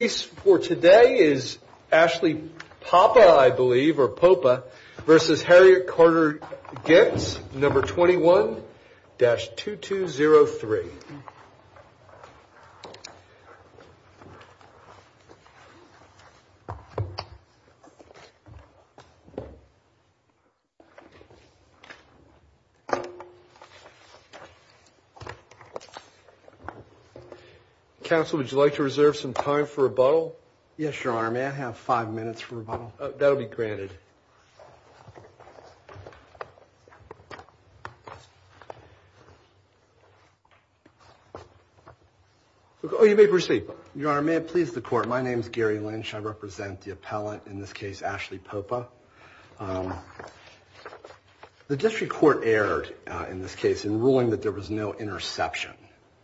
is for today is actually Papa, I believe, or Poppa versus Harriet Carter gets number 21-2203. Council, would you like to reserve some time for rebuttal? Yes, your honor. May I have five minutes for rebuttal? That'll be granted. You may proceed. Your honor, may it please the court, my name is Gary Lynch. I represent the appellant in this case, Ashley Poppa. The district court erred in this case in ruling that there was no interception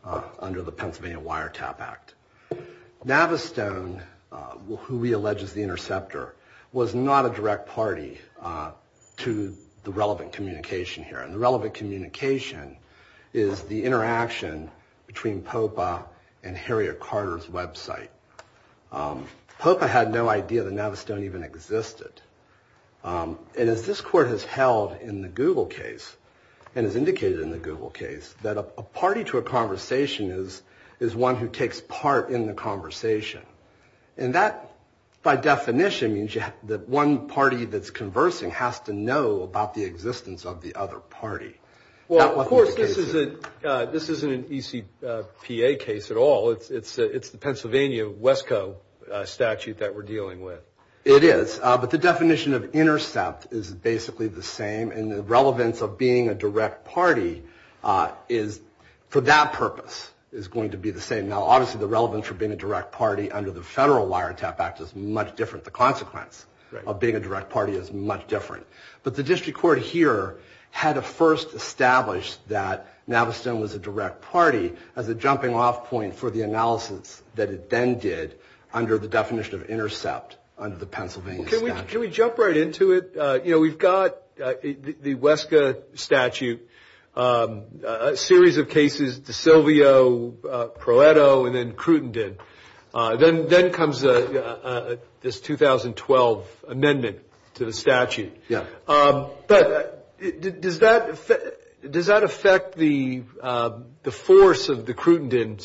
under the Pennsylvania Wiretap Act. Navistone, who we allege is the interceptor, was not a direct party to the relevant communication here. And the relevant communication is the interaction between Poppa and Harriet Carter's website. Poppa had no idea that Navistone even existed. And as this court has held in the Google case, and has indicated in the Google case, that a party to a conversation is one who takes part in the conversation. And that, by definition, means that one party that's conversing has to know about the existence of the other party. Well, of course, this isn't an ECPA case at all. It's the Pennsylvania WESCO statute that we're dealing with. It is. But the definition of intercept is basically the same. And the relevance of being a direct party is, for that purpose, is going to be the same. Now, obviously, the relevance for being a direct party under the federal Wiretap Act is much different. The consequence of being a direct party is much different. But the district court here had to first establish that Navistone was a direct party as a jumping off point for the analysis that it then did under the definition of intercept under the Pennsylvania statute. Can we jump right into it? You know, we've got the WESCO statute, a series of cases, DeSilvio, Proeto, and then Crutenden. Then comes this 2012 amendment to the statute. Yeah. But does that affect the force of the Crutenden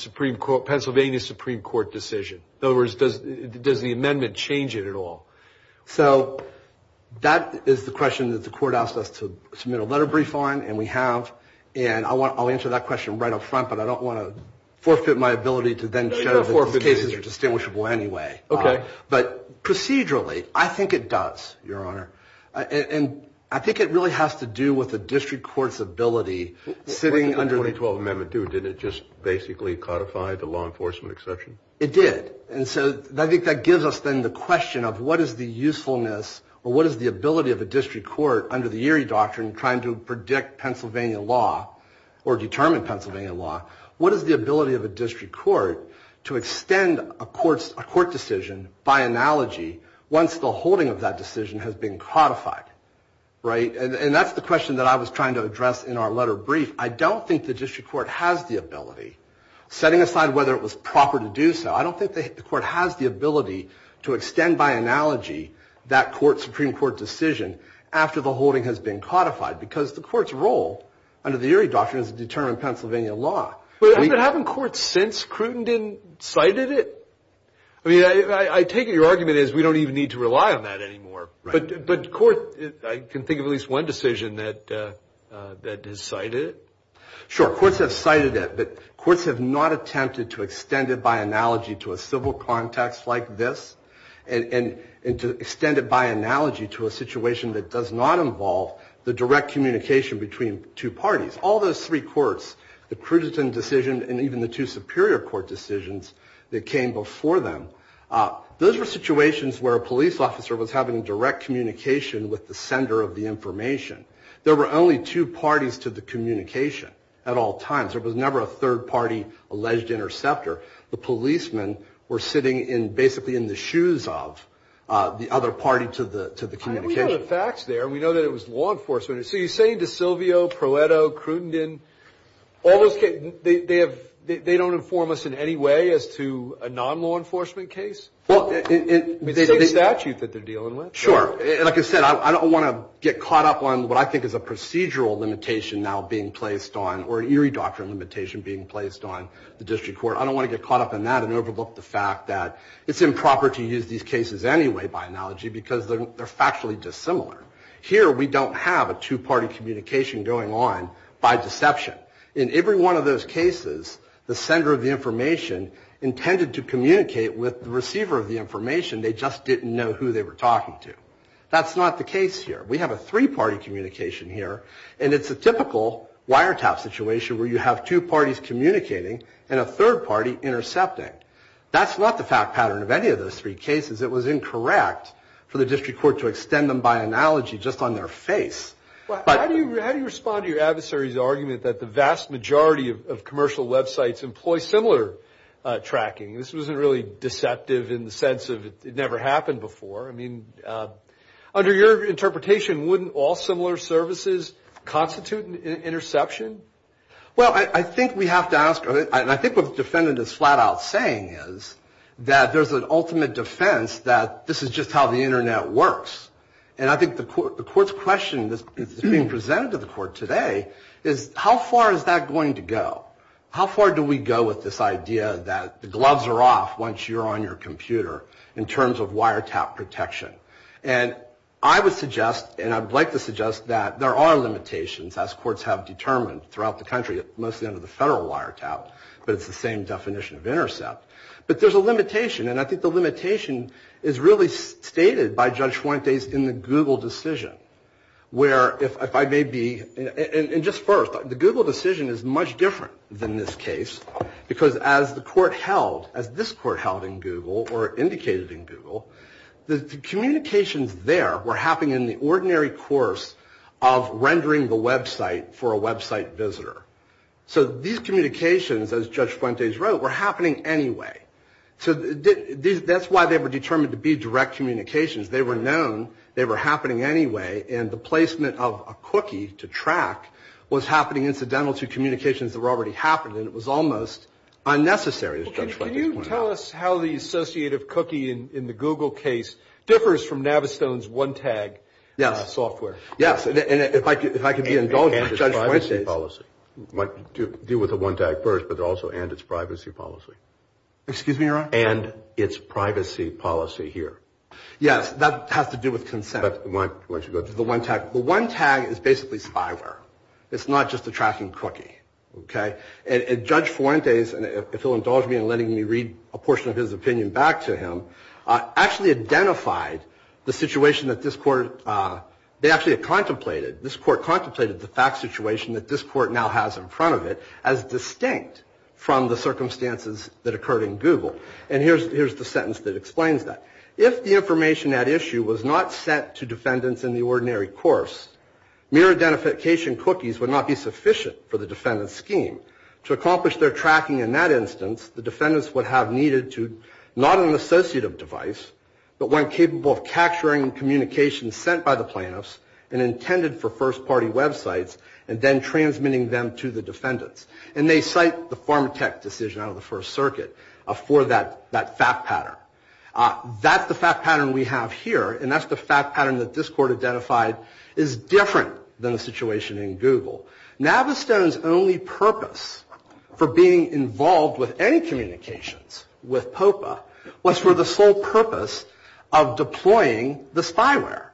Pennsylvania Supreme Court decision? In other words, does the amendment change it at all? So that is the question that the court asked us to submit a letter brief on, and we have. And I'll answer that question right up front. But I don't want to forfeit my ability to then show that these cases are distinguishable anyway. Okay. But procedurally, I think it does, Your Honor. And I think it really has to do with the district court's ability sitting under the- What did the 2012 amendment do? Did it just basically codify the law enforcement exception? It did. And so I think that gives us then the question of what is the usefulness or what is the ability of a district court under the Erie Doctrine trying to predict Pennsylvania law or determine Pennsylvania law, what is the ability of a district court to extend a court decision by analogy once the holding of that decision has been codified, right? And that's the question that I was trying to address in our letter brief. I don't think the district court has the ability. Setting aside whether it was proper to do so, I don't think the court has the ability to extend by analogy that Supreme Court decision after the holding has been codified because the court's role under the Erie Doctrine is to determine Pennsylvania law. But haven't courts since, Cruton, cited it? I mean, I take it your argument is we don't even need to rely on that anymore. But court, I can think of at least one decision that has cited it. Sure, courts have cited it. But courts have not attempted to extend it by analogy to a civil context like this and to extend it by analogy to a situation that does not involve the direct communication between two parties. All those three courts, the Cruton decision and even the two Superior Court decisions that came before them, those were situations where a police officer was having direct communication with the sender of the information. There were only two parties to the communication at all times. There was never a third-party alleged interceptor. The policemen were sitting basically in the shoes of the other party to the communication. I think we know the facts there. We know that it was law enforcement. So you're saying DeSilvio, Proeto, Cruton, all those cases, they don't inform us in any way as to a non-law enforcement case? It's the same statute that they're dealing with. Sure. Like I said, I don't want to get caught up on what I think is a procedural limitation now being placed on or an eerie doctrine limitation being placed on the district court. I don't want to get caught up in that and overlook the fact that it's improper to use these cases anyway by analogy because they're factually dissimilar. Here we don't have a two-party communication going on by deception. In every one of those cases, the sender of the information intended to communicate with the receiver of the information. They just didn't know who they were talking to. That's not the case here. We have a three-party communication here, and it's a typical wiretap situation where you have two parties communicating and a third party intercepting. That's not the fact pattern of any of those three cases. It was incorrect for the district court to extend them by analogy just on their face. How do you respond to your adversary's argument that the vast majority of commercial websites employ similar tracking? This wasn't really deceptive in the sense of it never happened before. I mean, under your interpretation, wouldn't all similar services constitute an interception? Well, I think we have to ask, and I think what the defendant is flat out saying is that there's an ultimate defense that this is just how the Internet works. And I think the court's question that's being presented to the court today is how far is that going to go? How far do we go with this idea that the gloves are off once you're on your computer in terms of wiretap protection? And I would suggest, and I would like to suggest, that there are limitations as courts have determined throughout the country, mostly under the federal wiretap, but it's the same definition of intercept. But there's a limitation, and I think the limitation is really stated by Judge Fuentes in the Google decision, where if I may be, and just first, the Google decision is much different than this case, because as the court held, as this court held in Google, or indicated in Google, the communications there were happening in the ordinary course of rendering the website for a website visitor. So these communications, as Judge Fuentes wrote, were happening anyway. So that's why they were determined to be direct communications. They were known. They were happening anyway. And the placement of a cookie to track was happening incidental to communications that were already happening. It was almost unnecessary, as Judge Fuentes pointed out. Well, can you tell us how the associative cookie in the Google case differs from Navistone's one-tag software? Yes. And if I could be indulgent, Judge Fuentes. And its privacy policy. Deal with the one-tag first, but also and its privacy policy. Excuse me, Your Honor? And its privacy policy here. Yes. That has to do with consent. The one-tag is basically spyware. It's not just a tracking cookie. Okay? And Judge Fuentes, if he'll indulge me in letting me read a portion of his opinion back to him, actually identified the situation that this court, they actually contemplated, this court contemplated the fact situation that this court now has in front of it as distinct from the circumstances that occurred in Google. And here's the sentence that explains that. If the information at issue was not sent to defendants in the ordinary course, mere identification cookies would not be sufficient for the defendant's scheme. To accomplish their tracking in that instance, the defendants would have needed to, not an associative device, but one capable of capturing communications sent by the plaintiffs and intended for first-party websites and then transmitting them to the defendants. And they cite the PharmaTech decision out of the First Circuit for that fact pattern. That's the fact pattern we have here, and that's the fact pattern that this court identified is different than the situation in Google. Navistone's only purpose for being involved with any communications with POPA was for the sole purpose of deploying the spyware.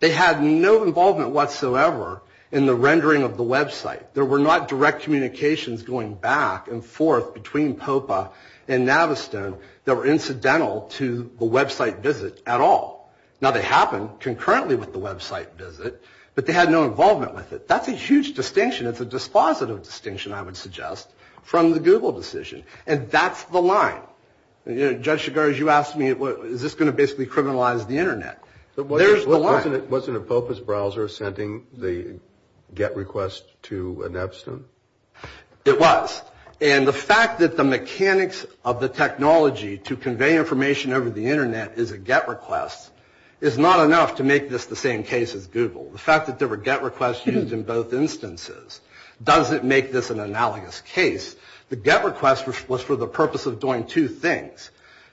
They had no involvement whatsoever in the rendering of the website. There were not direct communications going back and forth between POPA and Navistone that were incidental to the website visit at all. Now, they happened concurrently with the website visit, but they had no involvement with it. That's a huge distinction. It's a dispositive distinction, I would suggest, from the Google decision. And that's the line. Judge Chigars, you asked me, is this going to basically criminalize the Internet? There's the line. Wasn't a POPA's browser sending the GET request to Navistone? It was. And the fact that the mechanics of the technology to convey information over the Internet is a GET request is not enough to make this the same case as Google. The fact that there were GET requests used in both instances doesn't make this an analogous case. The GET request was for the purpose of doing two things,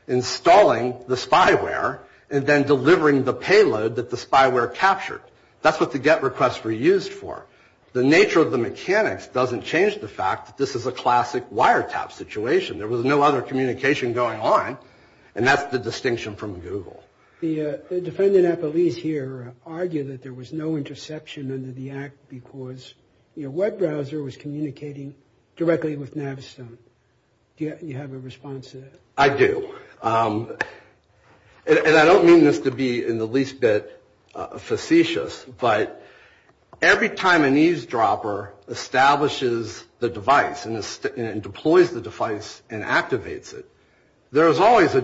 installing the spyware and then delivering the payload that the spyware captured. That's what the GET requests were used for. The nature of the mechanics doesn't change the fact that this is a classic wiretap situation. There was no other communication going on, and that's the distinction from Google. The defendant, at least here, argued that there was no interception under the act because your web browser was communicating directly with Navistone. Do you have a response to that? I do. And I don't mean this to be in the least bit facetious, but every time an eavesdropper establishes the device and deploys the device and activates it, there is always then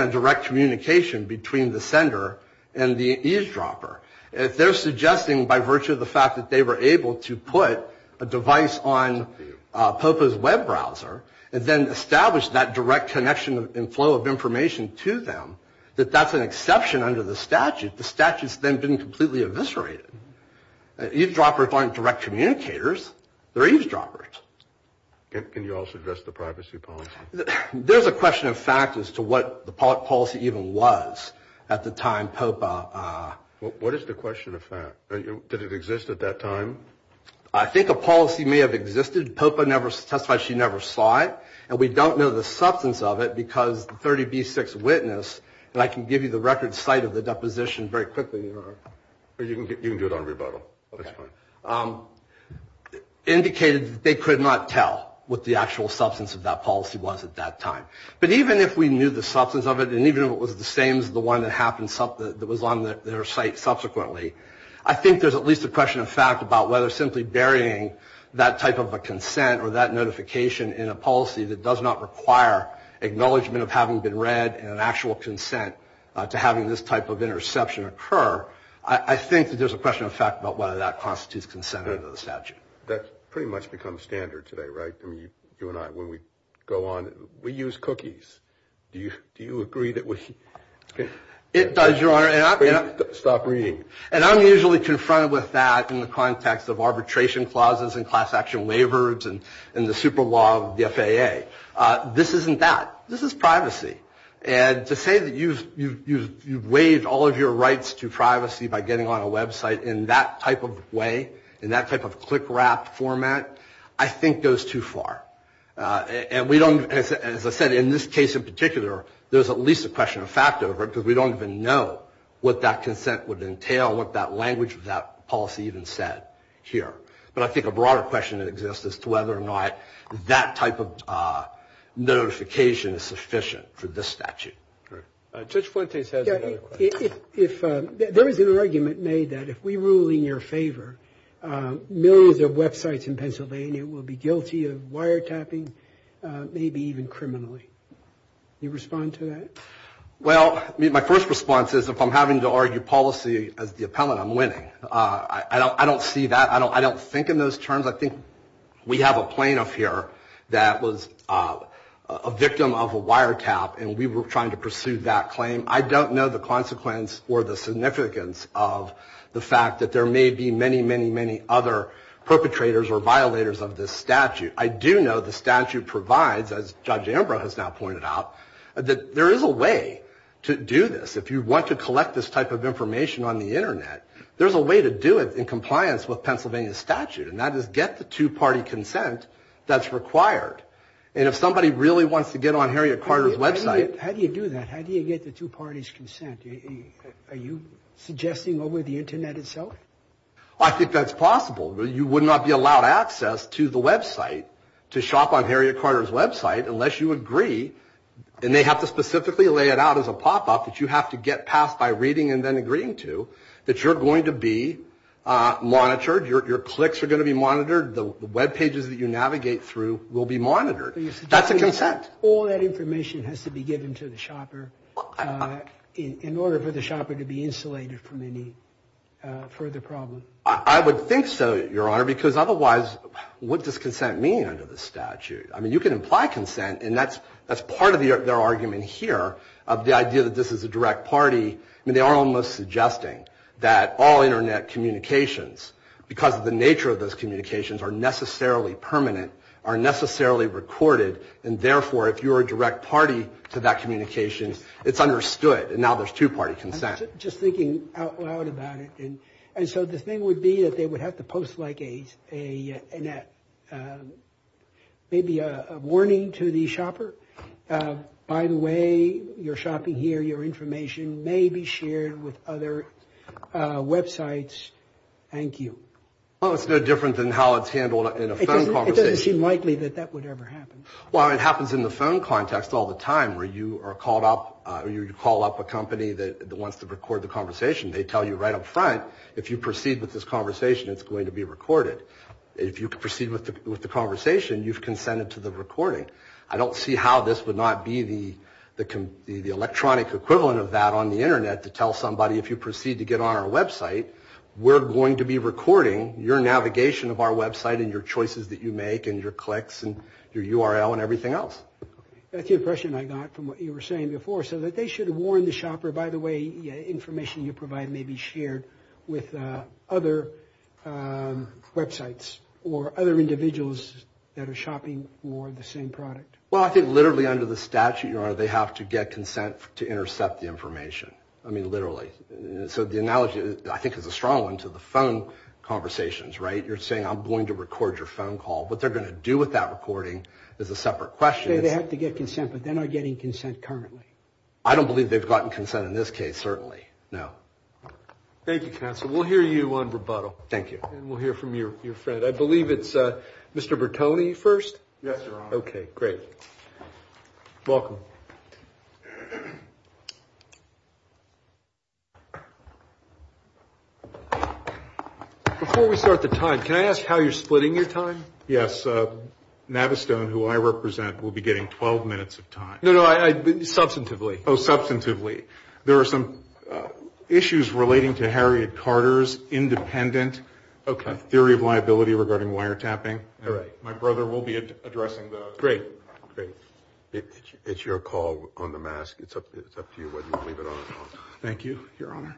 a direct communication between the sender and the eavesdropper. If they're suggesting by virtue of the fact that they were able to put a device on POPA's web browser and then establish that direct connection and flow of information to them, that that's an exception under the statute, the statute's then been completely eviscerated. Eavesdroppers aren't direct communicators. They're eavesdroppers. Can you also address the privacy policy? There's a question of fact as to what the policy even was at the time POPA... What is the question of fact? Did it exist at that time? I think a policy may have existed. POPA never testified she never saw it, and we don't know the substance of it because the 30B6 witness, and I can give you the record site of the deposition very quickly. You can do it on rebuttal. Indicated they could not tell what the actual substance of that policy was at that time. But even if we knew the substance of it, and even if it was the same as the one that was on their site subsequently, I think there's at least a question of fact about whether simply burying that type of a consent or that notification in a policy that does not require acknowledgement of having been read and an actual consent to having this type of interception occur, I think that there's a question of fact about whether that constitutes consent under the statute. That's pretty much become standard today, right? You and I, when we go on, we use cookies. Do you agree that we? It does, Your Honor. Stop reading. And I'm usually confronted with that in the context of arbitration clauses and class action waivers and the super law of the FAA. This isn't that. This is privacy. And to say that you've waived all of your rights to privacy by getting on a website in that type of way, in that type of click-wrap format, I think goes too far. And we don't, as I said, in this case in particular, there's at least a question of fact over it because we don't even know what that consent would entail, what that language of that policy even said here. But I think a broader question exists as to whether or not that type of notification is sufficient for this statute. Judge Fuentes has another question. There is an argument made that if we rule in your favor, millions of websites in Pennsylvania will be guilty of wiretapping, maybe even criminally. Can you respond to that? Well, my first response is if I'm having to argue policy as the appellant, I'm winning. I don't see that. I don't think in those terms. I think we have a plaintiff here that was a victim of a wiretap, and we were trying to pursue that claim. I don't know the consequence or the significance of the fact that there may be many, many, many other perpetrators or violators of this statute. I do know the statute provides, as Judge Ambrose has now pointed out, that there is a way to do this. If you want to collect this type of information on the Internet, there's a way to do it in compliance with Pennsylvania statute, and that is get the two-party consent that's required. And if somebody really wants to get on Harriet Carter's website — Are you suggesting over the Internet itself? I think that's possible. You would not be allowed access to the website, to shop on Harriet Carter's website, unless you agree — and they have to specifically lay it out as a pop-up that you have to get past by reading and then agreeing to — that you're going to be monitored, your clicks are going to be monitored, the Web pages that you navigate through will be monitored. That's a consent. All that information has to be given to the shopper in order for the shopper to be insulated from any further problem. I would think so, Your Honor, because otherwise, what does consent mean under the statute? I mean, you can imply consent, and that's part of their argument here, of the idea that this is a direct party. I mean, they are almost suggesting that all Internet communications, because of the nature of those communications, are necessarily permanent, are necessarily recorded, and therefore, if you're a direct party to that communication, it's understood. And now there's two-party consent. I'm just thinking out loud about it. And so the thing would be that they would have to post like a — maybe a warning to the shopper. By the way, you're shopping here. Your information may be shared with other websites. Thank you. Well, it's no different than how it's handled in a phone conversation. It doesn't seem likely that that would ever happen. Well, it happens in the phone context all the time, where you call up a company that wants to record the conversation. They tell you right up front, if you proceed with this conversation, it's going to be recorded. If you proceed with the conversation, you've consented to the recording. I don't see how this would not be the electronic equivalent of that on the Internet, to tell somebody, if you proceed to get on our website, we're going to be recording your navigation of our website and your choices that you make and your clicks and your URL and everything else. That's the impression I got from what you were saying before, so that they should warn the shopper, by the way, information you provide may be shared with other websites or other individuals that are shopping for the same product. Well, I think literally under the statute, Your Honor, they have to get consent to intercept the information. I mean, literally. So the analogy, I think, is a strong one to the phone conversations, right? You're saying, I'm going to record your phone call. What they're going to do with that recording is a separate question. They have to get consent, but they're not getting consent currently. I don't believe they've gotten consent in this case, certainly, no. Thank you, counsel. We'll hear you on rebuttal. Thank you. And we'll hear from your friend. I believe it's Mr. Bertone first? Yes, Your Honor. Okay, great. Welcome. Before we start the time, can I ask how you're splitting your time? Yes. Navistone, who I represent, will be getting 12 minutes of time. No, no, substantively. Oh, substantively. There are some issues relating to Harriet Carter's independent theory of liability regarding wiretapping. My brother will be addressing those. Great, great. It's your call on the mask. It's up to you whether you want to leave it on or not. Thank you, Your Honor.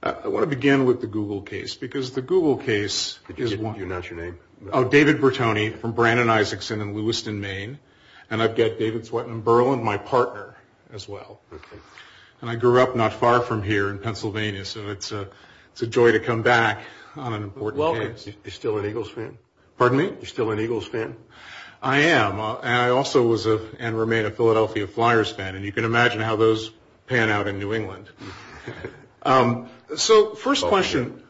I want to begin with the Google case, because the Google case is one— Not your name. Oh, David Bertone from Brandon, Isaacson, in Lewiston, Maine. And I've got David Sweatman-Berlin, my partner, as well. Okay. And I grew up not far from here in Pennsylvania, so it's a joy to come back on an important case. Well, you're still an Eagles fan. Pardon me? You're still an Eagles fan? I am. And I also was and remain a Philadelphia Flyers fan. And you can imagine how those pan out in New England. So first question—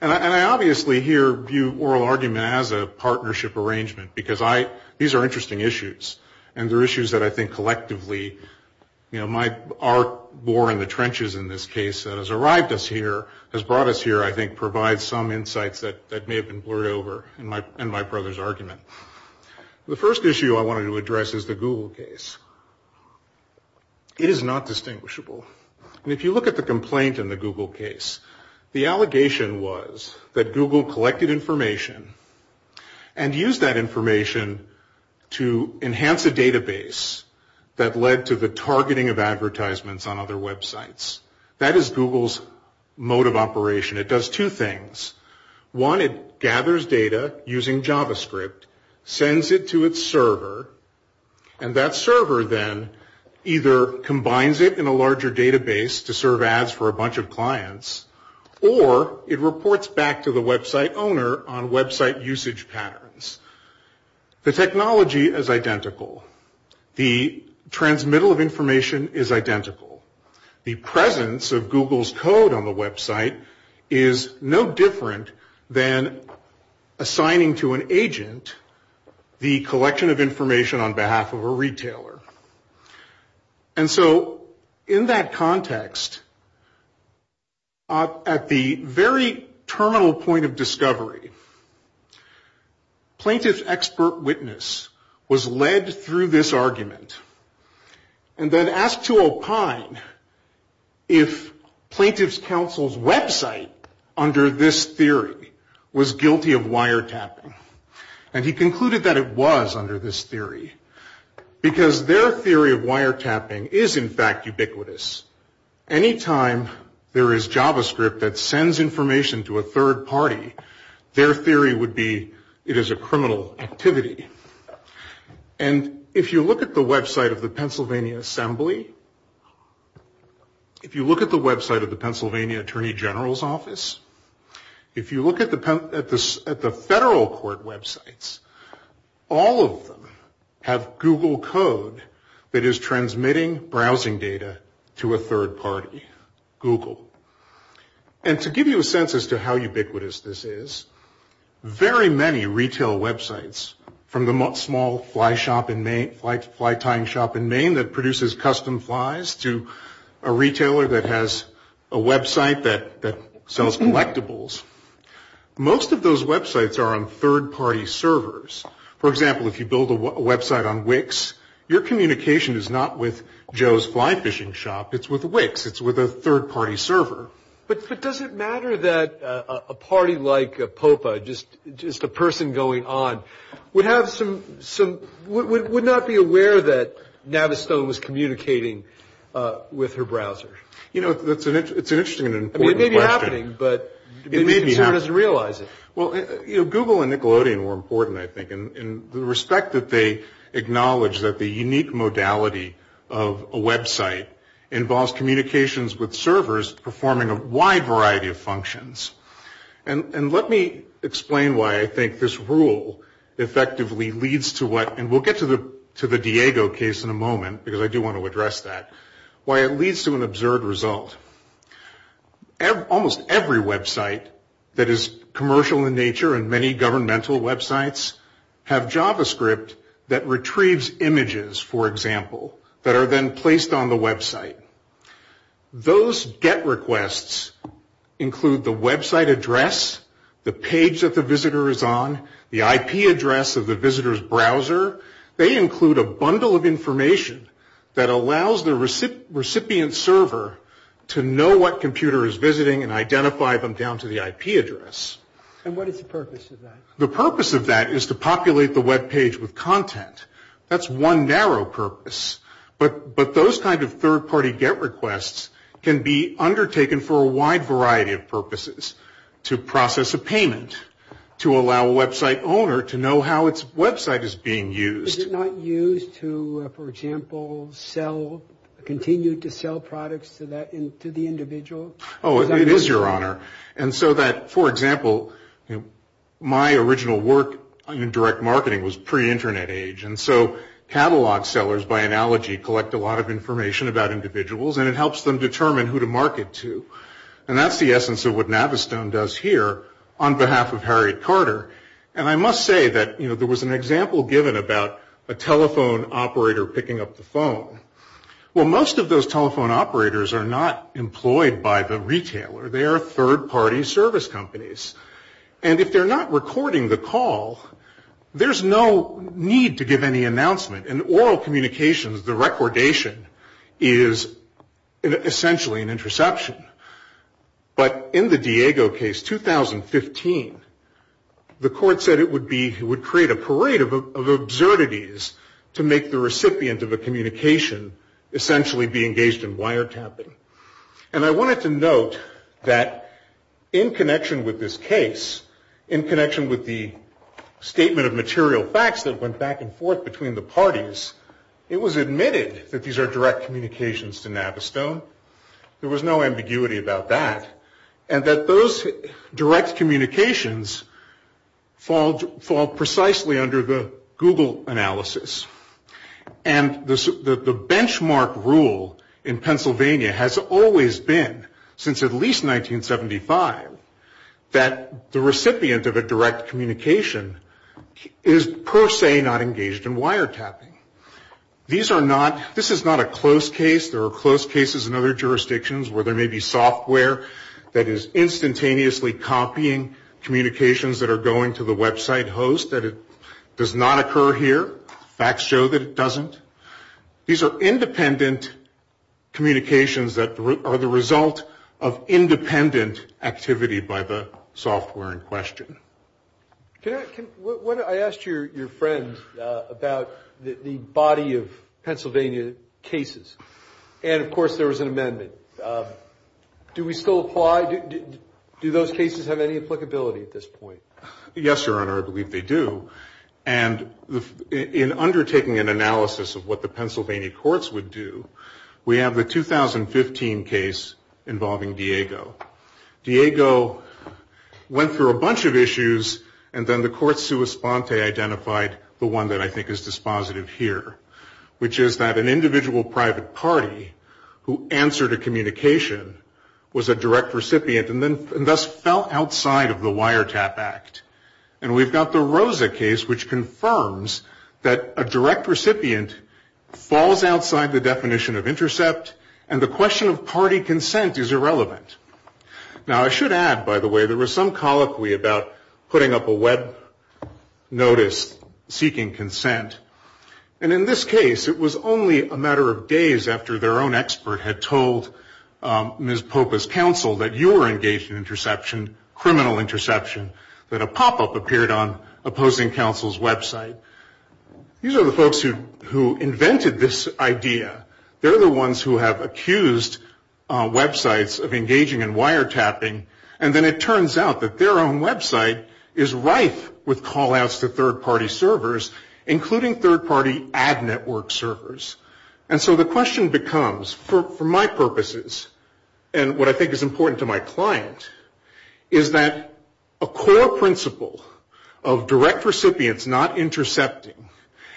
And I obviously here view oral argument as a partnership arrangement, because these are interesting issues. And they're issues that I think collectively— you know, my arc bore in the trenches in this case that has arrived us here, has brought us here, I think provides some insights that may have been blurred over in my brother's argument. The first issue I wanted to address is the Google case. It is not distinguishable. And if you look at the complaint in the Google case, the allegation was that Google collected information and used that information to enhance a database that led to the targeting of advertisements on other websites. That is Google's mode of operation. It does two things. One, it gathers data using JavaScript, sends it to its server, and that server then either combines it in a larger database to serve ads for a bunch of clients, or it reports back to the website owner on website usage patterns. The technology is identical. The transmittal of information is identical. The presence of Google's code on the website is no different than assigning to an agent the collection of information on behalf of a retailer. And so in that context, at the very terminal point of discovery, plaintiff's expert witness was led through this argument and then asked to opine if plaintiff's counsel's website under this theory was guilty of wiretapping. And he concluded that it was under this theory because their theory of wiretapping is in fact ubiquitous. Any time there is JavaScript that sends information to a third party, their theory would be it is a criminal activity. And if you look at the website of the Pennsylvania Assembly, if you look at the website of the Pennsylvania Attorney General's office, if you look at the federal court websites, all of them have Google code that is transmitting browsing data to a third party, Google. And to give you a sense as to how ubiquitous this is, there are very many retail websites, from the small fly tying shop in Maine that produces custom flies to a retailer that has a website that sells collectibles. Most of those websites are on third party servers. For example, if you build a website on Wix, your communication is not with Joe's fly fishing shop. It's with Wix. It's with a third party server. But does it matter that a party like a popa, just a person going on, would not be aware that Navistone was communicating with her browser? You know, it's an interesting and important question. I mean, it may be happening, but maybe someone doesn't realize it. Well, Google and Nickelodeon were important, I think, in the respect that they acknowledge that the unique modality of a website involves communications with servers performing a wide variety of functions. And let me explain why I think this rule effectively leads to what, and we'll get to the Diego case in a moment, because I do want to address that, why it leads to an absurd result. Almost every website that is commercial in nature, and many governmental websites, have JavaScript that retrieves images, for example, that are then placed on the website. Those get requests include the website address, the page that the visitor is on, the IP address of the visitor's browser. They include a bundle of information that allows the recipient server to know what computer is visiting and identify them down to the IP address. And what is the purpose of that? The purpose of that is to populate the webpage with content. That's one narrow purpose. But those kind of third-party get requests can be undertaken for a wide variety of purposes, to process a payment, to allow a website owner to know how its website is being used. Is it not used to, for example, continue to sell products to the individual? Oh, it is, Your Honor. And so that, for example, my original work in direct marketing was pre-Internet age. And so catalog sellers, by analogy, collect a lot of information about individuals, and it helps them determine who to market to. And that's the essence of what Navistone does here on behalf of Harriet Carter. And I must say that there was an example given about a telephone operator picking up the phone. Well, most of those telephone operators are not employed by the retailer. They are third-party service companies. And if they're not recording the call, there's no need to give any announcement. In oral communications, the recordation is essentially an interception. But in the Diego case, 2015, the court said it would create a parade of absurdities to make the recipient of a communication essentially be engaged in wiretapping. And I wanted to note that in connection with this case, in connection with the statement of material facts that went back and forth between the parties, it was admitted that these are direct communications to Navistone. There was no ambiguity about that. And that those direct communications fall precisely under the Google analysis. And the benchmark rule in Pennsylvania has always been, since at least 1975, that the recipient of a direct communication is per se not engaged in wiretapping. This is not a close case. There are close cases in other jurisdictions where there may be software that is instantaneously copying communications that are going to the website host. That it does not occur here. Facts show that it doesn't. These are independent communications that are the result of independent activity by the software in question. I asked your friend about the body of Pennsylvania cases. And, of course, there was an amendment. Do we still apply? Do those cases have any applicability at this point? Yes, Your Honor, I believe they do. And in undertaking an analysis of what the Pennsylvania courts would do, we have the 2015 case involving Diego. Diego went through a bunch of issues, and then the court sua sponte identified the one that I think is dispositive here, which is that an individual private party who answered a communication was a direct recipient and thus fell outside of the wiretap act. And we've got the Rosa case, which confirms that a direct recipient falls outside the definition of intercept, and the question of party consent is irrelevant. Now, I should add, by the way, there was some colloquy about putting up a web notice seeking consent. And in this case, it was only a matter of days after their own expert had told Ms. Popa's counsel that you were engaged in interception, criminal interception, that a pop-up appeared on opposing counsel's website. These are the folks who invented this idea. They're the ones who have accused websites of engaging in wiretapping, and then it turns out that their own website is rife with call-outs to third-party servers, including third-party ad network servers. And so the question becomes, for my purposes, and what I think is important to my client, is that a core principle of direct recipients not intercepting,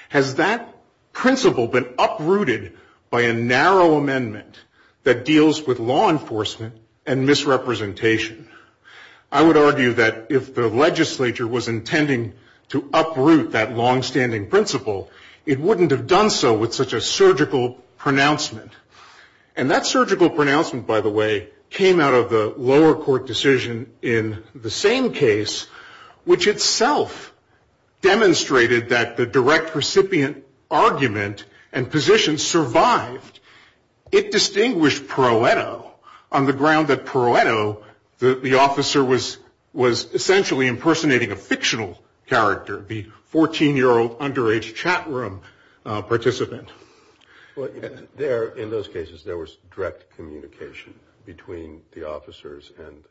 has that principle been uprooted by a narrow amendment that deals with law enforcement and misrepresentation? I would argue that if the legislature was intending to uproot that longstanding principle, it wouldn't have done so with such a surgical pronouncement. And that surgical pronouncement, by the way, came out of the lower court decision in the same case, which itself demonstrated that the direct recipient argument and position survived. It distinguished Pareto on the ground that Pareto, the officer was essentially impersonating a fictional character, the 14-year-old underage chat room participant. Well, there, in those cases, there was direct communication between the officers and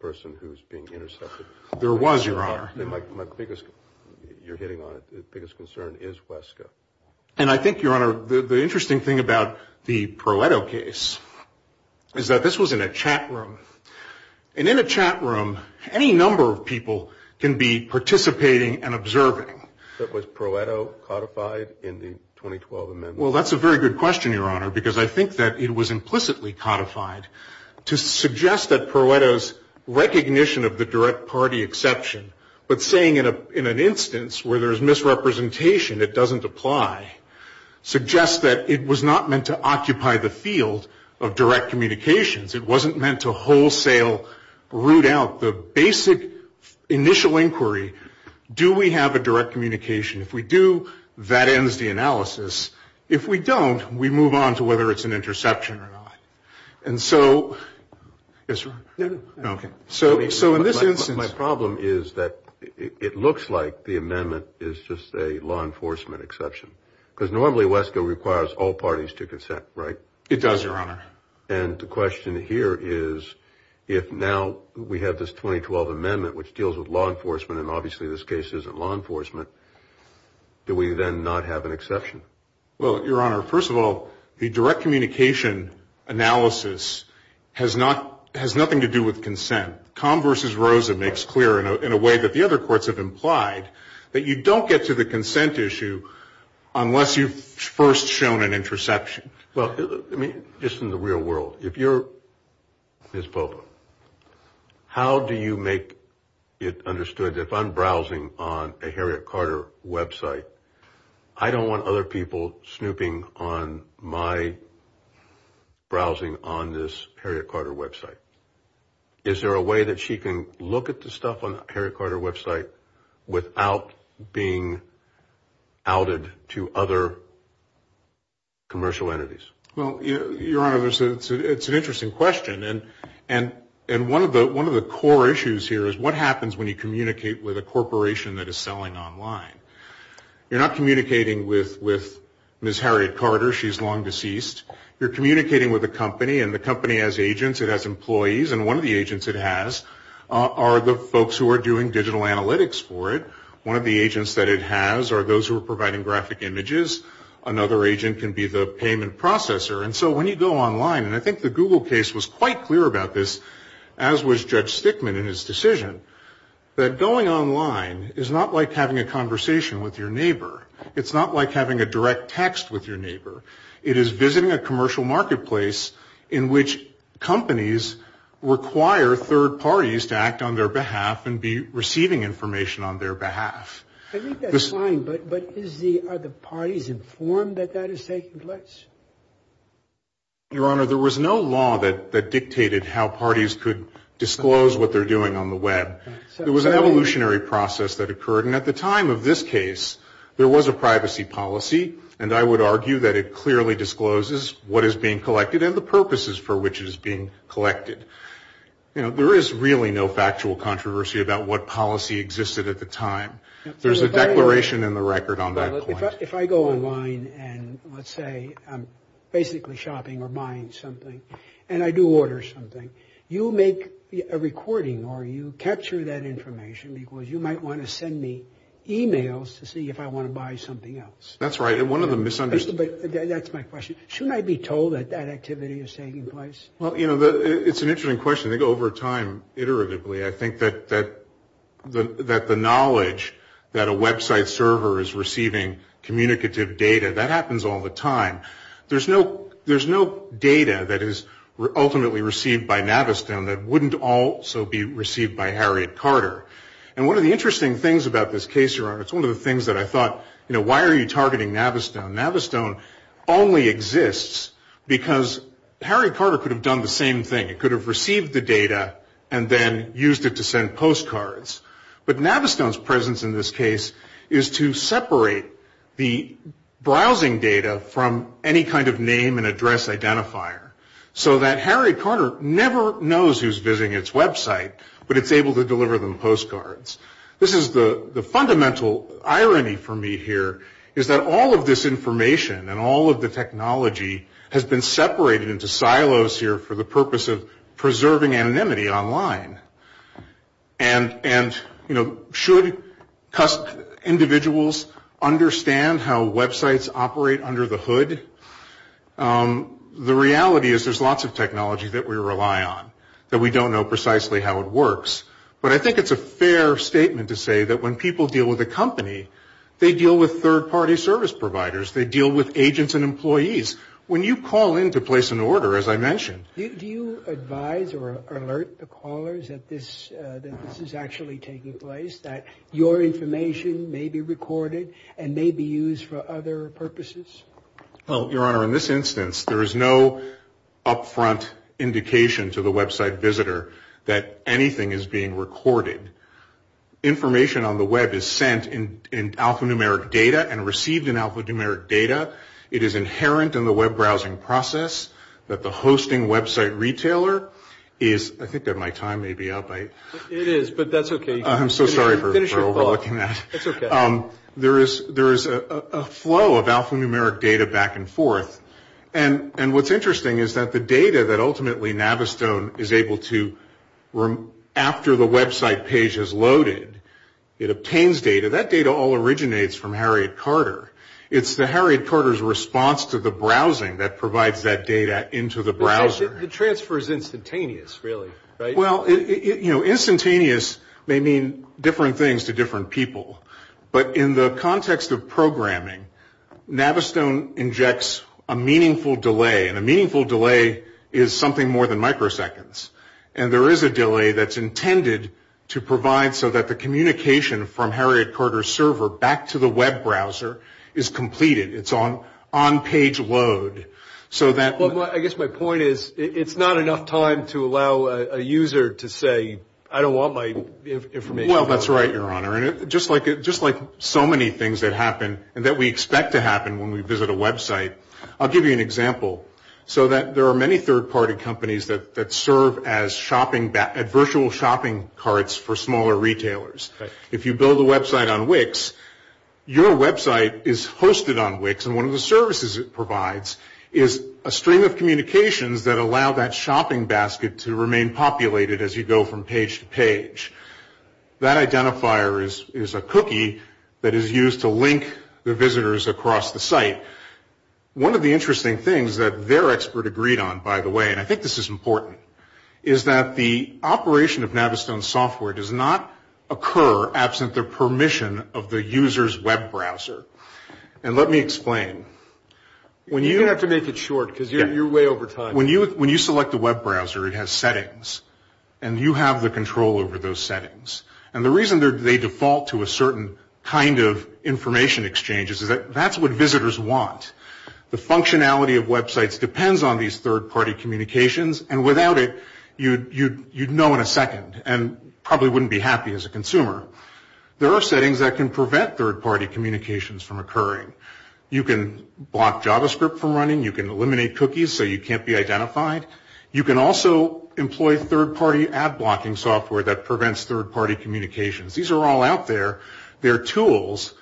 the person who was being intercepted. There was, Your Honor. My biggest, you're hitting on it, the biggest concern is Wesco. And I think, Your Honor, the interesting thing about the Pareto case is that this was in a chat room. And in a chat room, any number of people can be participating and observing. But was Pareto codified in the 2012 amendment? Well, that's a very good question, Your Honor, because I think that it was implicitly codified to suggest that Pareto's recognition of the direct party exception, but saying in an instance where there's misrepresentation it doesn't apply, suggests that it was not meant to occupy the field of direct communications. It wasn't meant to wholesale root out the basic initial inquiry. Do we have a direct communication? If we do, that ends the analysis. If we don't, we move on to whether it's an interception or not. And so, yes, Your Honor. Okay. So in this instance. My problem is that it looks like the amendment is just a law enforcement exception, because normally Wesco requires all parties to consent, right? It does, Your Honor. And the question here is if now we have this 2012 amendment, which deals with law enforcement, and obviously this case isn't law enforcement, do we then not have an exception? Well, Your Honor, first of all, the direct communication analysis has nothing to do with consent. Combs v. Rosa makes clear in a way that the other courts have implied that you don't get to the consent issue unless you've first shown an interception. Well, just in the real world, if you're Ms. Popa, how do you make it understood that if I'm browsing on a Harriet Carter website, I don't want other people snooping on my browsing on this Harriet Carter website? Is there a way that she can look at the stuff on the Harriet Carter website without being outed to other commercial entities? Well, Your Honor, it's an interesting question. And one of the core issues here is what happens when you communicate with a corporation that is selling online. You're not communicating with Ms. Harriet Carter. She's long deceased. You're communicating with a company, and the company has agents. It has employees. And one of the agents it has are the folks who are doing digital analytics for it. One of the agents that it has are those who are providing graphic images. Another agent can be the payment processor. And so when you go online, and I think the Google case was quite clear about this, as was Judge Stickman in his decision, that going online is not like having a conversation with your neighbor. It is visiting a commercial marketplace in which companies require third parties to act on their behalf and be receiving information on their behalf. I think that's fine, but are the parties informed that that is taking place? Your Honor, there was no law that dictated how parties could disclose what they're doing on the web. There was an evolutionary process that occurred. And at the time of this case, there was a privacy policy. And I would argue that it clearly discloses what is being collected and the purposes for which it is being collected. You know, there is really no factual controversy about what policy existed at the time. There's a declaration in the record on that point. If I go online and, let's say, I'm basically shopping or buying something, and I do order something, you make a recording or you capture that information because you might want to send me e-mails to see if I want to buy something else. That's right. And one of the misunderstandings... But that's my question. Shouldn't I be told that that activity is taking place? Well, you know, it's an interesting question. I think over time, iteratively, I think that the knowledge that a website server is receiving communicative data, that happens all the time. There's no data that is ultimately received by Navistan that wouldn't also be received by Harriet Carter. And one of the interesting things about this case, Your Honor, it's one of the things that I thought, you know, why are you targeting Navistone? Navistone only exists because Harriet Carter could have done the same thing. It could have received the data and then used it to send postcards. But Navistone's presence in this case is to separate the browsing data from any kind of name and address identifier so that Harriet Carter never knows who's visiting its website, but it's able to deliver them postcards. This is the fundamental irony for me here, is that all of this information and all of the technology has been separated into silos here for the purpose of preserving anonymity online. And, you know, should individuals understand how websites operate under the hood? The reality is there's lots of technology that we rely on, that we don't know precisely how it works. But I think it's a fair statement to say that when people deal with a company, they deal with third-party service providers. They deal with agents and employees. When you call in to place an order, as I mentioned. Do you advise or alert the callers that this is actually taking place, that your information may be recorded and may be used for other purposes? Well, Your Honor, in this instance, there is no upfront indication to the website visitor that anything is being recorded. Information on the web is sent in alphanumeric data and received in alphanumeric data. It is inherent in the web browsing process that the hosting website retailer is, I think that my time may be up. It is, but that's okay. I'm so sorry for overlooking that. That's okay. There is a flow of alphanumeric data back and forth. And what's interesting is that the data that ultimately Navistone is able to, after the website page is loaded, it obtains data. That data all originates from Harriet Carter. It's the Harriet Carter's response to the browsing that provides that data into the browser. The transfer is instantaneous, really, right? Well, instantaneous may mean different things to different people. But in the context of programming, Navistone injects a meaningful delay, and a meaningful delay is something more than microseconds. And there is a delay that's intended to provide so that the communication from Harriet Carter's server back to the web browser is completed. It's on page load. I guess my point is it's not enough time to allow a user to say, I don't want my information. Well, that's right, Your Honor. And just like so many things that happen and that we expect to happen when we visit a website, I'll give you an example. So there are many third-party companies that serve as virtual shopping carts for smaller retailers. If you build a website on Wix, your website is hosted on Wix, and one of the services it provides is a stream of communications that allow that shopping basket to remain populated as you go from page to page. That identifier is a cookie that is used to link the visitors across the site. One of the interesting things that their expert agreed on, by the way, and I think this is important, is that the operation of Navistone software does not occur absent the permission of the user's web browser. And let me explain. You're going to have to make it short because you're way over time. But when you select a web browser, it has settings, and you have the control over those settings. And the reason they default to a certain kind of information exchange is that that's what visitors want. The functionality of websites depends on these third-party communications, and without it, you'd know in a second and probably wouldn't be happy as a consumer. There are settings that can prevent third-party communications from occurring. You can block JavaScript from running. You can eliminate cookies so you can't be identified. You can also employ third-party ad-blocking software that prevents third-party communications. These are all out there. They're tools.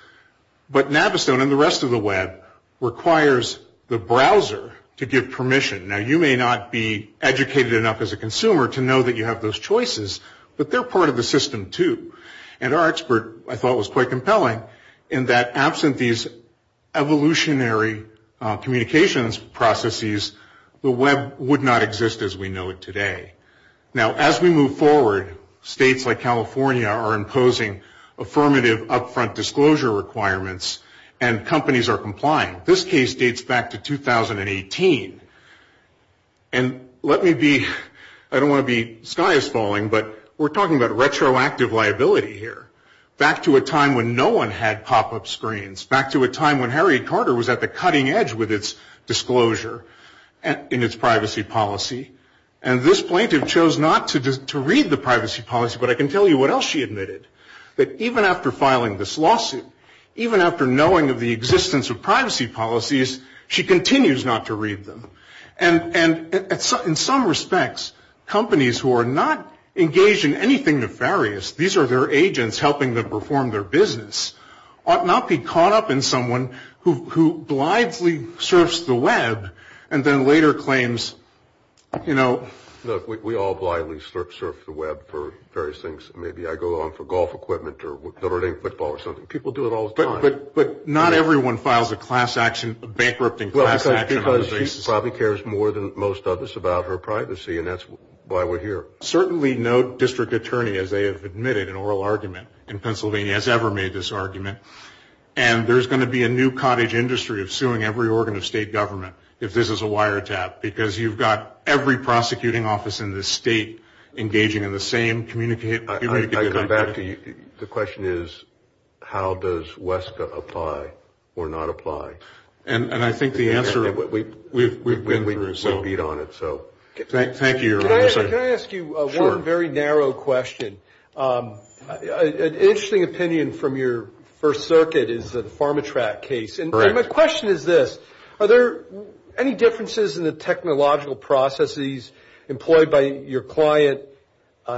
But Navistone and the rest of the web requires the browser to give permission. Now, you may not be educated enough as a consumer to know that you have those choices, but they're part of the system too. And our expert, I thought, was quite compelling in that absent these evolutionary communications processes, the web would not exist as we know it today. Now, as we move forward, states like California are imposing affirmative up-front disclosure requirements, and companies are complying. This case dates back to 2018. And let me be, I don't want to be sky-falling, but we're talking about retroactive liability here, back to a time when no one had pop-up screens, back to a time when Harry Carter was at the cutting edge with its disclosure in its privacy policy. And this plaintiff chose not to read the privacy policy, but I can tell you what else she admitted, that even after filing this lawsuit, even after knowing of the existence of privacy policies, she continues not to read them. And in some respects, companies who are not engaged in anything nefarious, these are their agents helping them perform their business, ought not be caught up in someone who blithely surfs the web and then later claims, you know. Look, we all blithely surf the web for various things. Maybe I go on for golf equipment or Notre Dame football or something. People do it all the time. But not everyone files a class action, a bankrupting class action. Because she probably cares more than most others about her privacy, and that's why we're here. Certainly no district attorney, as they have admitted in oral argument in Pennsylvania, has ever made this argument. And there's going to be a new cottage industry of suing every organ of state government if this is a wiretap, because you've got every prosecuting office in this state engaging in the same communicate. I come back to you. The question is, how does WESCA apply or not apply? And I think the answer we've been through, so. We'll beat on it, so. Thank you, Your Honor. Can I ask you one very narrow question? An interesting opinion from your First Circuit is the PharmaTrac case. And my question is this. Are there any differences in the technological processes employed by your client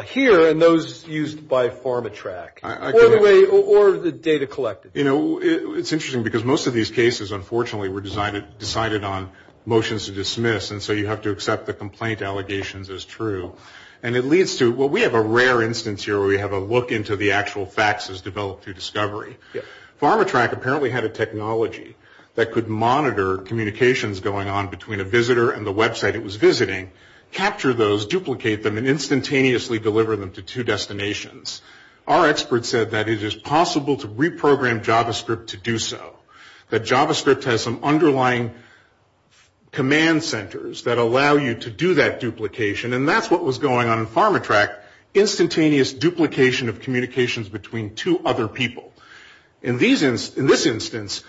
here and those used by PharmaTrac, or the data collected? You know, it's interesting, because most of these cases, unfortunately, were decided on motions to dismiss, and so you have to accept the complaint allegations as true. And it leads to, well, we have a rare instance here where we have a look into the actual facts as developed through discovery. PharmaTrac apparently had a technology that could monitor communications going on between a visitor and the website it was visiting, capture those, duplicate them, and instantaneously deliver them to two destinations. Our expert said that it is possible to reprogram JavaScript to do so, that JavaScript has some underlying command centers that allow you to do that duplication, and that's what was going on in PharmaTrac, instantaneous duplication of communications between two other people. In this instance,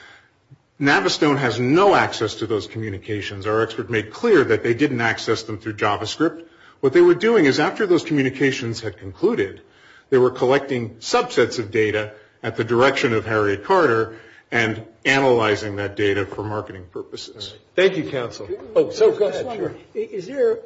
Navistone has no access to those communications. Our expert made clear that they didn't access them through JavaScript. What they were doing is after those communications had concluded, they were collecting subsets of data at the direction of Harriet Carter and analyzing that data for marketing purposes. Thank you, counsel. Is there,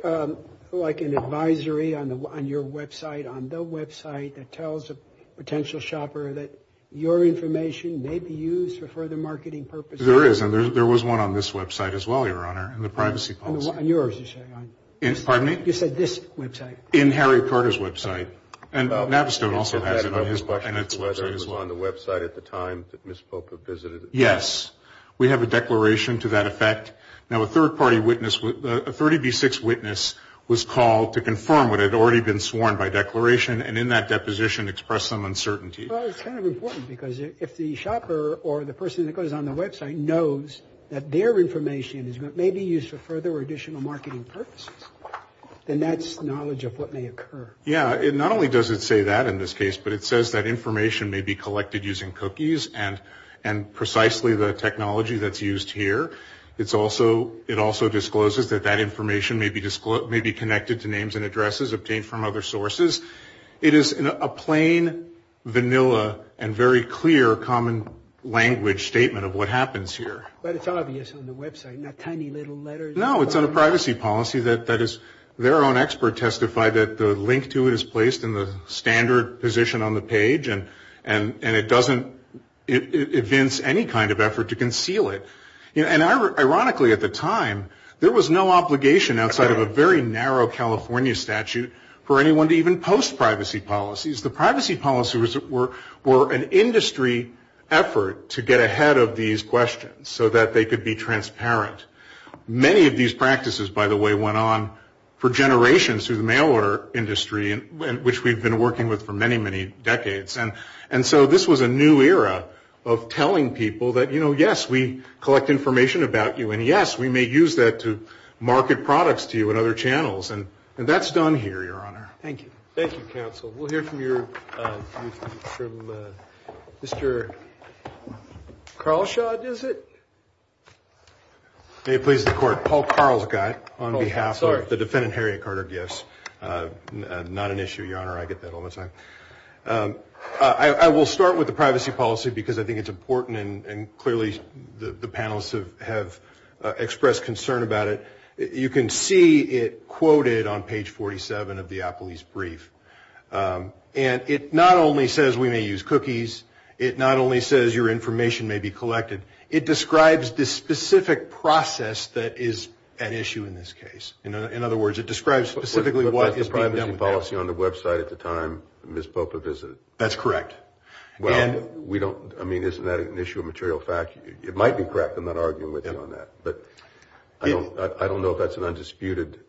like, an advisory on your website, on the website that tells a potential shopper that your information may be used for further marketing purposes? There is, and there was one on this website as well, Your Honor, in the privacy policy. On yours, you're saying? Pardon me? You said this website. In Harriet Carter's website. And Navistone also has it on his website. Was there one on the website at the time that Ms. Polk had visited? Yes. We have a declaration to that effect. Now, a third-party witness, a 30B6 witness, was called to confirm what had already been sworn by declaration, and in that deposition expressed some uncertainty. Well, it's kind of important because if the shopper or the person that goes on the website knows that their information may be used for further or additional marketing purposes, then that's knowledge of what may occur. Yeah. Not only does it say that in this case, but it says that information may be collected using cookies and precisely the technology that's used here. It also discloses that that information may be connected to names and addresses obtained from other sources. It is a plain, vanilla, and very clear common language statement of what happens here. But it's obvious on the website, not tiny little letters. No, it's on a privacy policy that is their own expert testified that the link to it is placed in the standard position on the page, and it doesn't evince any kind of effort to conceal it. And ironically, at the time, there was no obligation outside of a very narrow California statute for anyone to even post privacy policies. The privacy policies were an industry effort to get ahead of these questions so that they could be transparent. Many of these practices, by the way, went on for generations through the mail order industry, which we've been working with for many, many decades. And so this was a new era of telling people that, you know, yes, we collect information about you, and yes, we may use that to market products to you in other channels. And that's done here, Your Honor. Thank you. Thank you, counsel. We'll hear from Mr. Carlshaw, is it? May it please the Court. Paul Carl's guy on behalf of the defendant, Harriet Carter, yes. Not an issue, Your Honor. I get that all the time. I will start with the privacy policy because I think it's important, and clearly the panelists have expressed concern about it. You can see it quoted on page 47 of the Applebee's brief, and it not only says we may use cookies, it not only says your information may be collected, it describes the specific process that is at issue in this case. In other words, it describes specifically what is being done with that. But that's the privacy policy on the website at the time Ms. Popa visited. That's correct. Well, we don't – I mean, isn't that an issue of material fact? It might be correct, I'm not arguing with you on that. But I don't know if that's an undisputed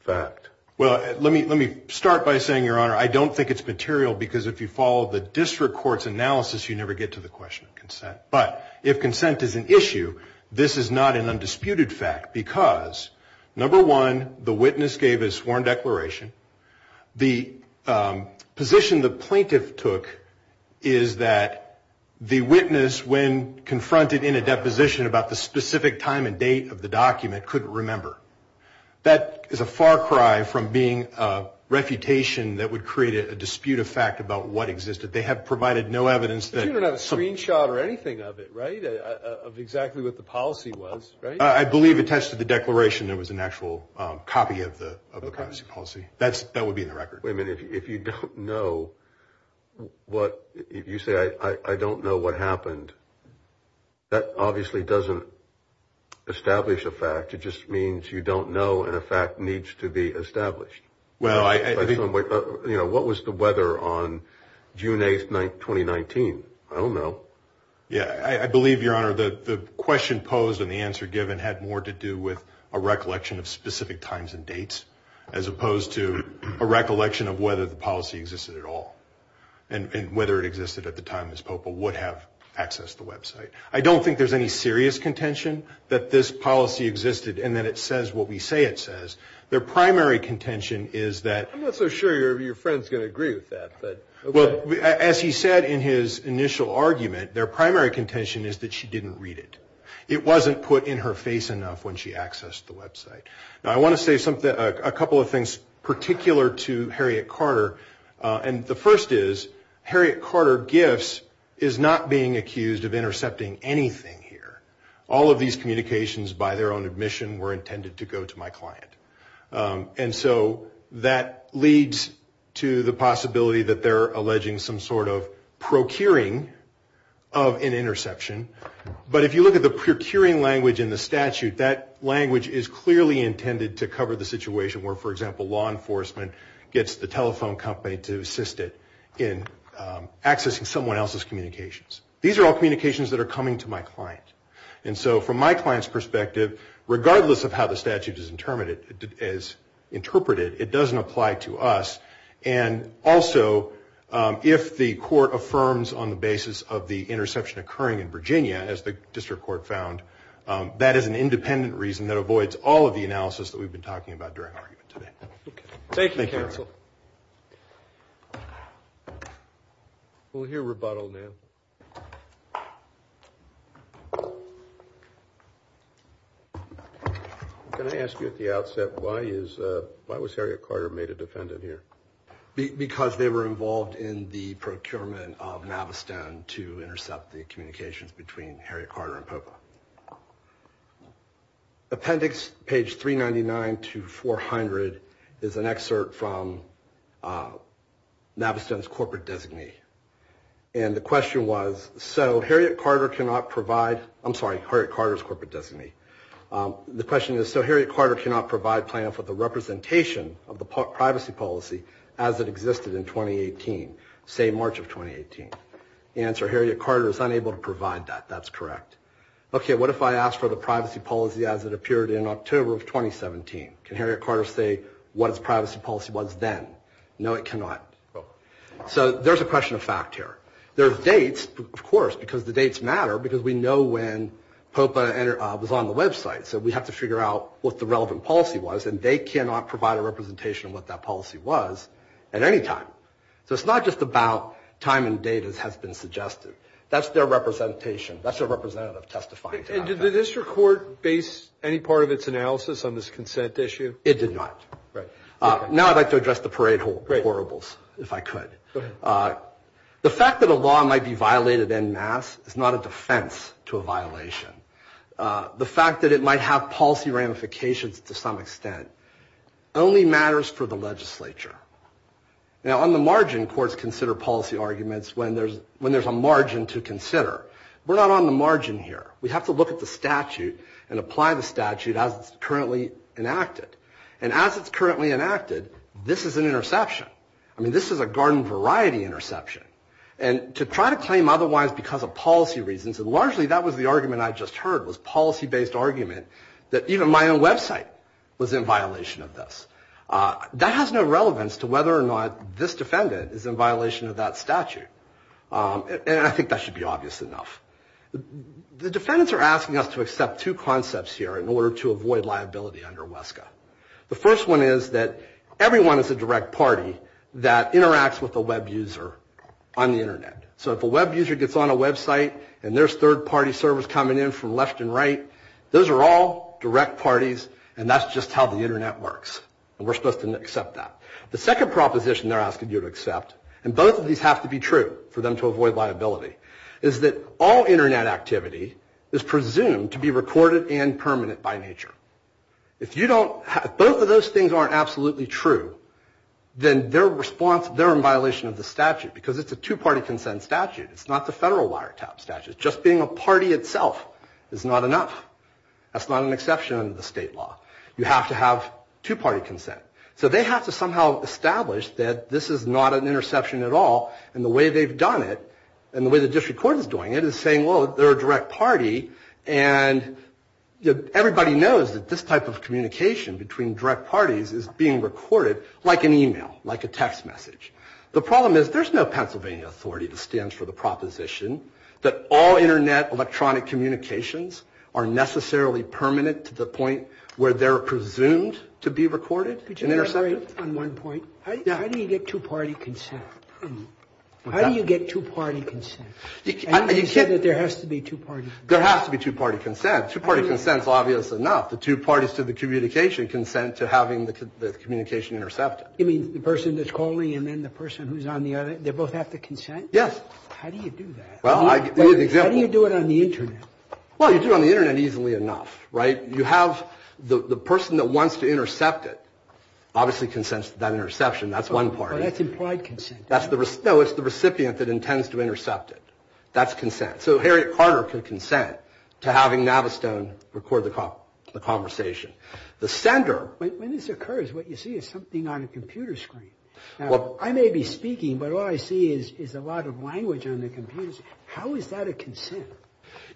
fact. Well, let me start by saying, Your Honor, I don't think it's material because if you follow the district court's analysis, you never get to the question of consent. But if consent is an issue, this is not an undisputed fact because, number one, the witness gave a sworn declaration. The position the plaintiff took is that the witness, when confronted in a deposition about the specific time and date of the document, couldn't remember. That is a far cry from being a refutation that would create a dispute of fact about what existed. They have provided no evidence that – But you don't have a screenshot or anything of it, right, of exactly what the policy was, right? I believe attached to the declaration there was an actual copy of the privacy policy. That would be in the record. Wait a minute. If you don't know what – if you say, I don't know what happened, that obviously doesn't establish a fact. It just means you don't know and a fact needs to be established. Well, I – What was the weather on June 8th, 2019? I don't know. Yeah, I believe, Your Honor, the question posed and the answer given had more to do with a recollection of specific times and dates as opposed to a recollection of whether the policy existed at all and whether it existed at the time Ms. Popa would have accessed the website. I don't think there's any serious contention that this policy existed and that it says what we say it says. Their primary contention is that – I'm not so sure your friend's going to agree with that, but – Well, as he said in his initial argument, their primary contention is that she didn't read it. It wasn't put in her face enough when she accessed the website. Now, I want to say a couple of things particular to Harriet Carter, and the first is Harriet Carter GIFs is not being accused of intercepting anything here. All of these communications by their own admission were intended to go to my client. And so that leads to the possibility that they're alleging some sort of procuring of an interception. But if you look at the procuring language in the statute, that language is clearly intended to cover the situation where, for example, law enforcement gets the telephone company to assist it in accessing someone else's communications. These are all communications that are coming to my client. And so from my client's perspective, regardless of how the statute is interpreted, it doesn't apply to us. And also, if the court affirms on the basis of the interception occurring in Virginia, as the district court found, that is an independent reason that avoids all of the analysis that we've been talking about during argument today. Thank you, counsel. We'll hear rebuttal now. Can I ask you at the outset, why was Harriet Carter made a defendant here? Because they were involved in the procurement of Navistown to intercept the communications between Harriet Carter and POPA. Appendix page 399 to 400 is an excerpt from Navistown's corporate designee. And the question was, so Harriet Carter cannot provide, I'm sorry, Harriet Carter's corporate designee. The question is, so Harriet Carter cannot provide plan for the representation of the privacy policy as it existed in 2018, say March of 2018. The answer, Harriet Carter is unable to provide that. That's correct. Okay, what if I ask for the privacy policy as it appeared in October of 2017? Can Harriet Carter say what its privacy policy was then? No, it cannot. So there's a question of fact here. There are dates, of course, because the dates matter, because we know when POPA was on the website. So we have to figure out what the relevant policy was, and they cannot provide a representation of what that policy was at any time. So it's not just about time and date as has been suggested. That's their representation. That's their representative testifying to that fact. And did this report base any part of its analysis on this consent issue? It did not. Now I'd like to address the parade of horribles, if I could. The fact that a law might be violated en masse is not a defense to a violation. The fact that it might have policy ramifications to some extent only matters for the legislature. Now on the margin, courts consider policy arguments when there's a margin to consider. We're not on the margin here. We have to look at the statute and apply the statute as it's currently enacted. And as it's currently enacted, this is an interception. I mean, this is a garden variety interception. And to try to claim otherwise because of policy reasons, and largely that was the argument I just heard, was policy-based argument that even my own website was in violation of this. That has no relevance to whether or not this defendant is in violation of that statute. And I think that should be obvious enough. The defendants are asking us to accept two concepts here in order to avoid liability under WESCA. The first one is that everyone is a direct party that interacts with a web user on the Internet. So if a web user gets on a website and there's third-party servers coming in from left and right, those are all direct parties and that's just how the Internet works. And we're supposed to accept that. The second proposition they're asking you to accept, and both of these have to be true for them to avoid liability, is that all Internet activity is presumed to be recorded and permanent by nature. If both of those things aren't absolutely true, then they're in violation of the statute because it's a two-party consent statute. It's not the federal wiretap statute. Just being a party itself is not enough. That's not an exception under the state law. You have to have two-party consent. So they have to somehow establish that this is not an interception at all, and the way they've done it, and the way the district court is doing it, is saying, well, they're a direct party, and everybody knows that this type of communication between direct parties is being recorded like an e-mail, like a text message. The problem is there's no Pennsylvania authority that stands for the proposition that all Internet electronic communications are necessarily permanent to the point where they're presumed to be recorded and intercepted. Could you elaborate on one point? How do you get two-party consent? How do you get two-party consent? And you said that there has to be two-party consent. There has to be two-party consent. Two-party consent is obvious enough. The two parties to the communication consent to having the communication intercepted. You mean the person that's calling and then the person who's on the other? They both have to consent? Yes. How do you do that? Well, I give you an example. How do you do it on the Internet? Well, you do it on the Internet easily enough, right? You have the person that wants to intercept it obviously consents to that interception. That's one party. Well, that's implied consent. No, it's the recipient that intends to intercept it. That's consent. So Harriet Carter could consent to having Navistone record the conversation. The sender... When this occurs, what you see is something on a computer screen. I may be speaking, but all I see is a lot of language on the computers. How is that a consent?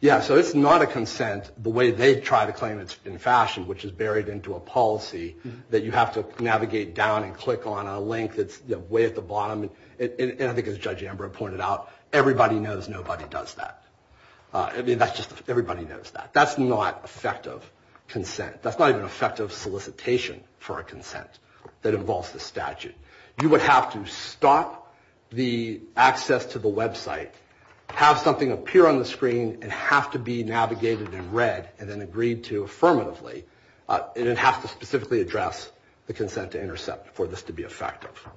Yeah, so it's not a consent the way they try to claim it in fashion, which is buried into a policy that you have to navigate down and click on a link that's way at the bottom, and I think as Judge Amber pointed out, everybody knows nobody does that. I mean, that's just everybody knows that. That's not effective consent. That's not even effective solicitation for a consent that involves the statute. You would have to stop the access to the website, have something appear on the screen, and have to be navigated in red and then agreed to affirmatively, and then have to specifically address the consent to intercept for this to be effective.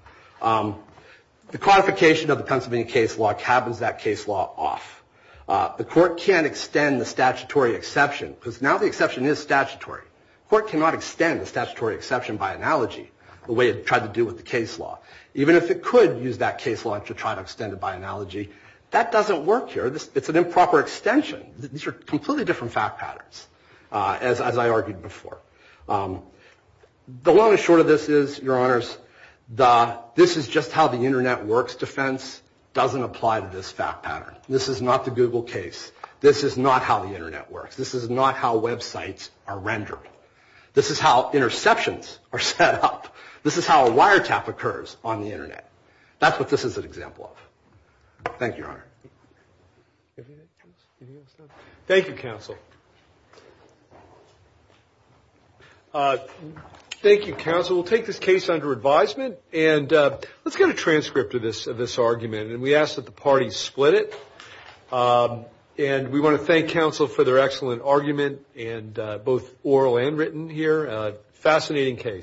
The quantification of the Pennsylvania case law cabins that case law off. The court can't extend the statutory exception because now the exception is statutory. The court cannot extend the statutory exception by analogy, the way it tried to do with the case law. Even if it could use that case law to try to extend it by analogy, that doesn't work here. It's an improper extension. These are completely different fact patterns, as I argued before. The long and short of this is, Your Honors, this is just how the Internet works defense doesn't apply to this fact pattern. This is not the Google case. This is not how the Internet works. This is not how websites are rendered. This is how interceptions are set up. This is how a wiretap occurs on the Internet. That's what this is an example of. Thank you, Your Honor. Anything else? Thank you, counsel. Thank you, counsel. We'll take this case under advisement. And let's get a transcript of this argument. And we ask that the parties split it. And we want to thank counsel for their excellent argument, both oral and written here. Fascinating case.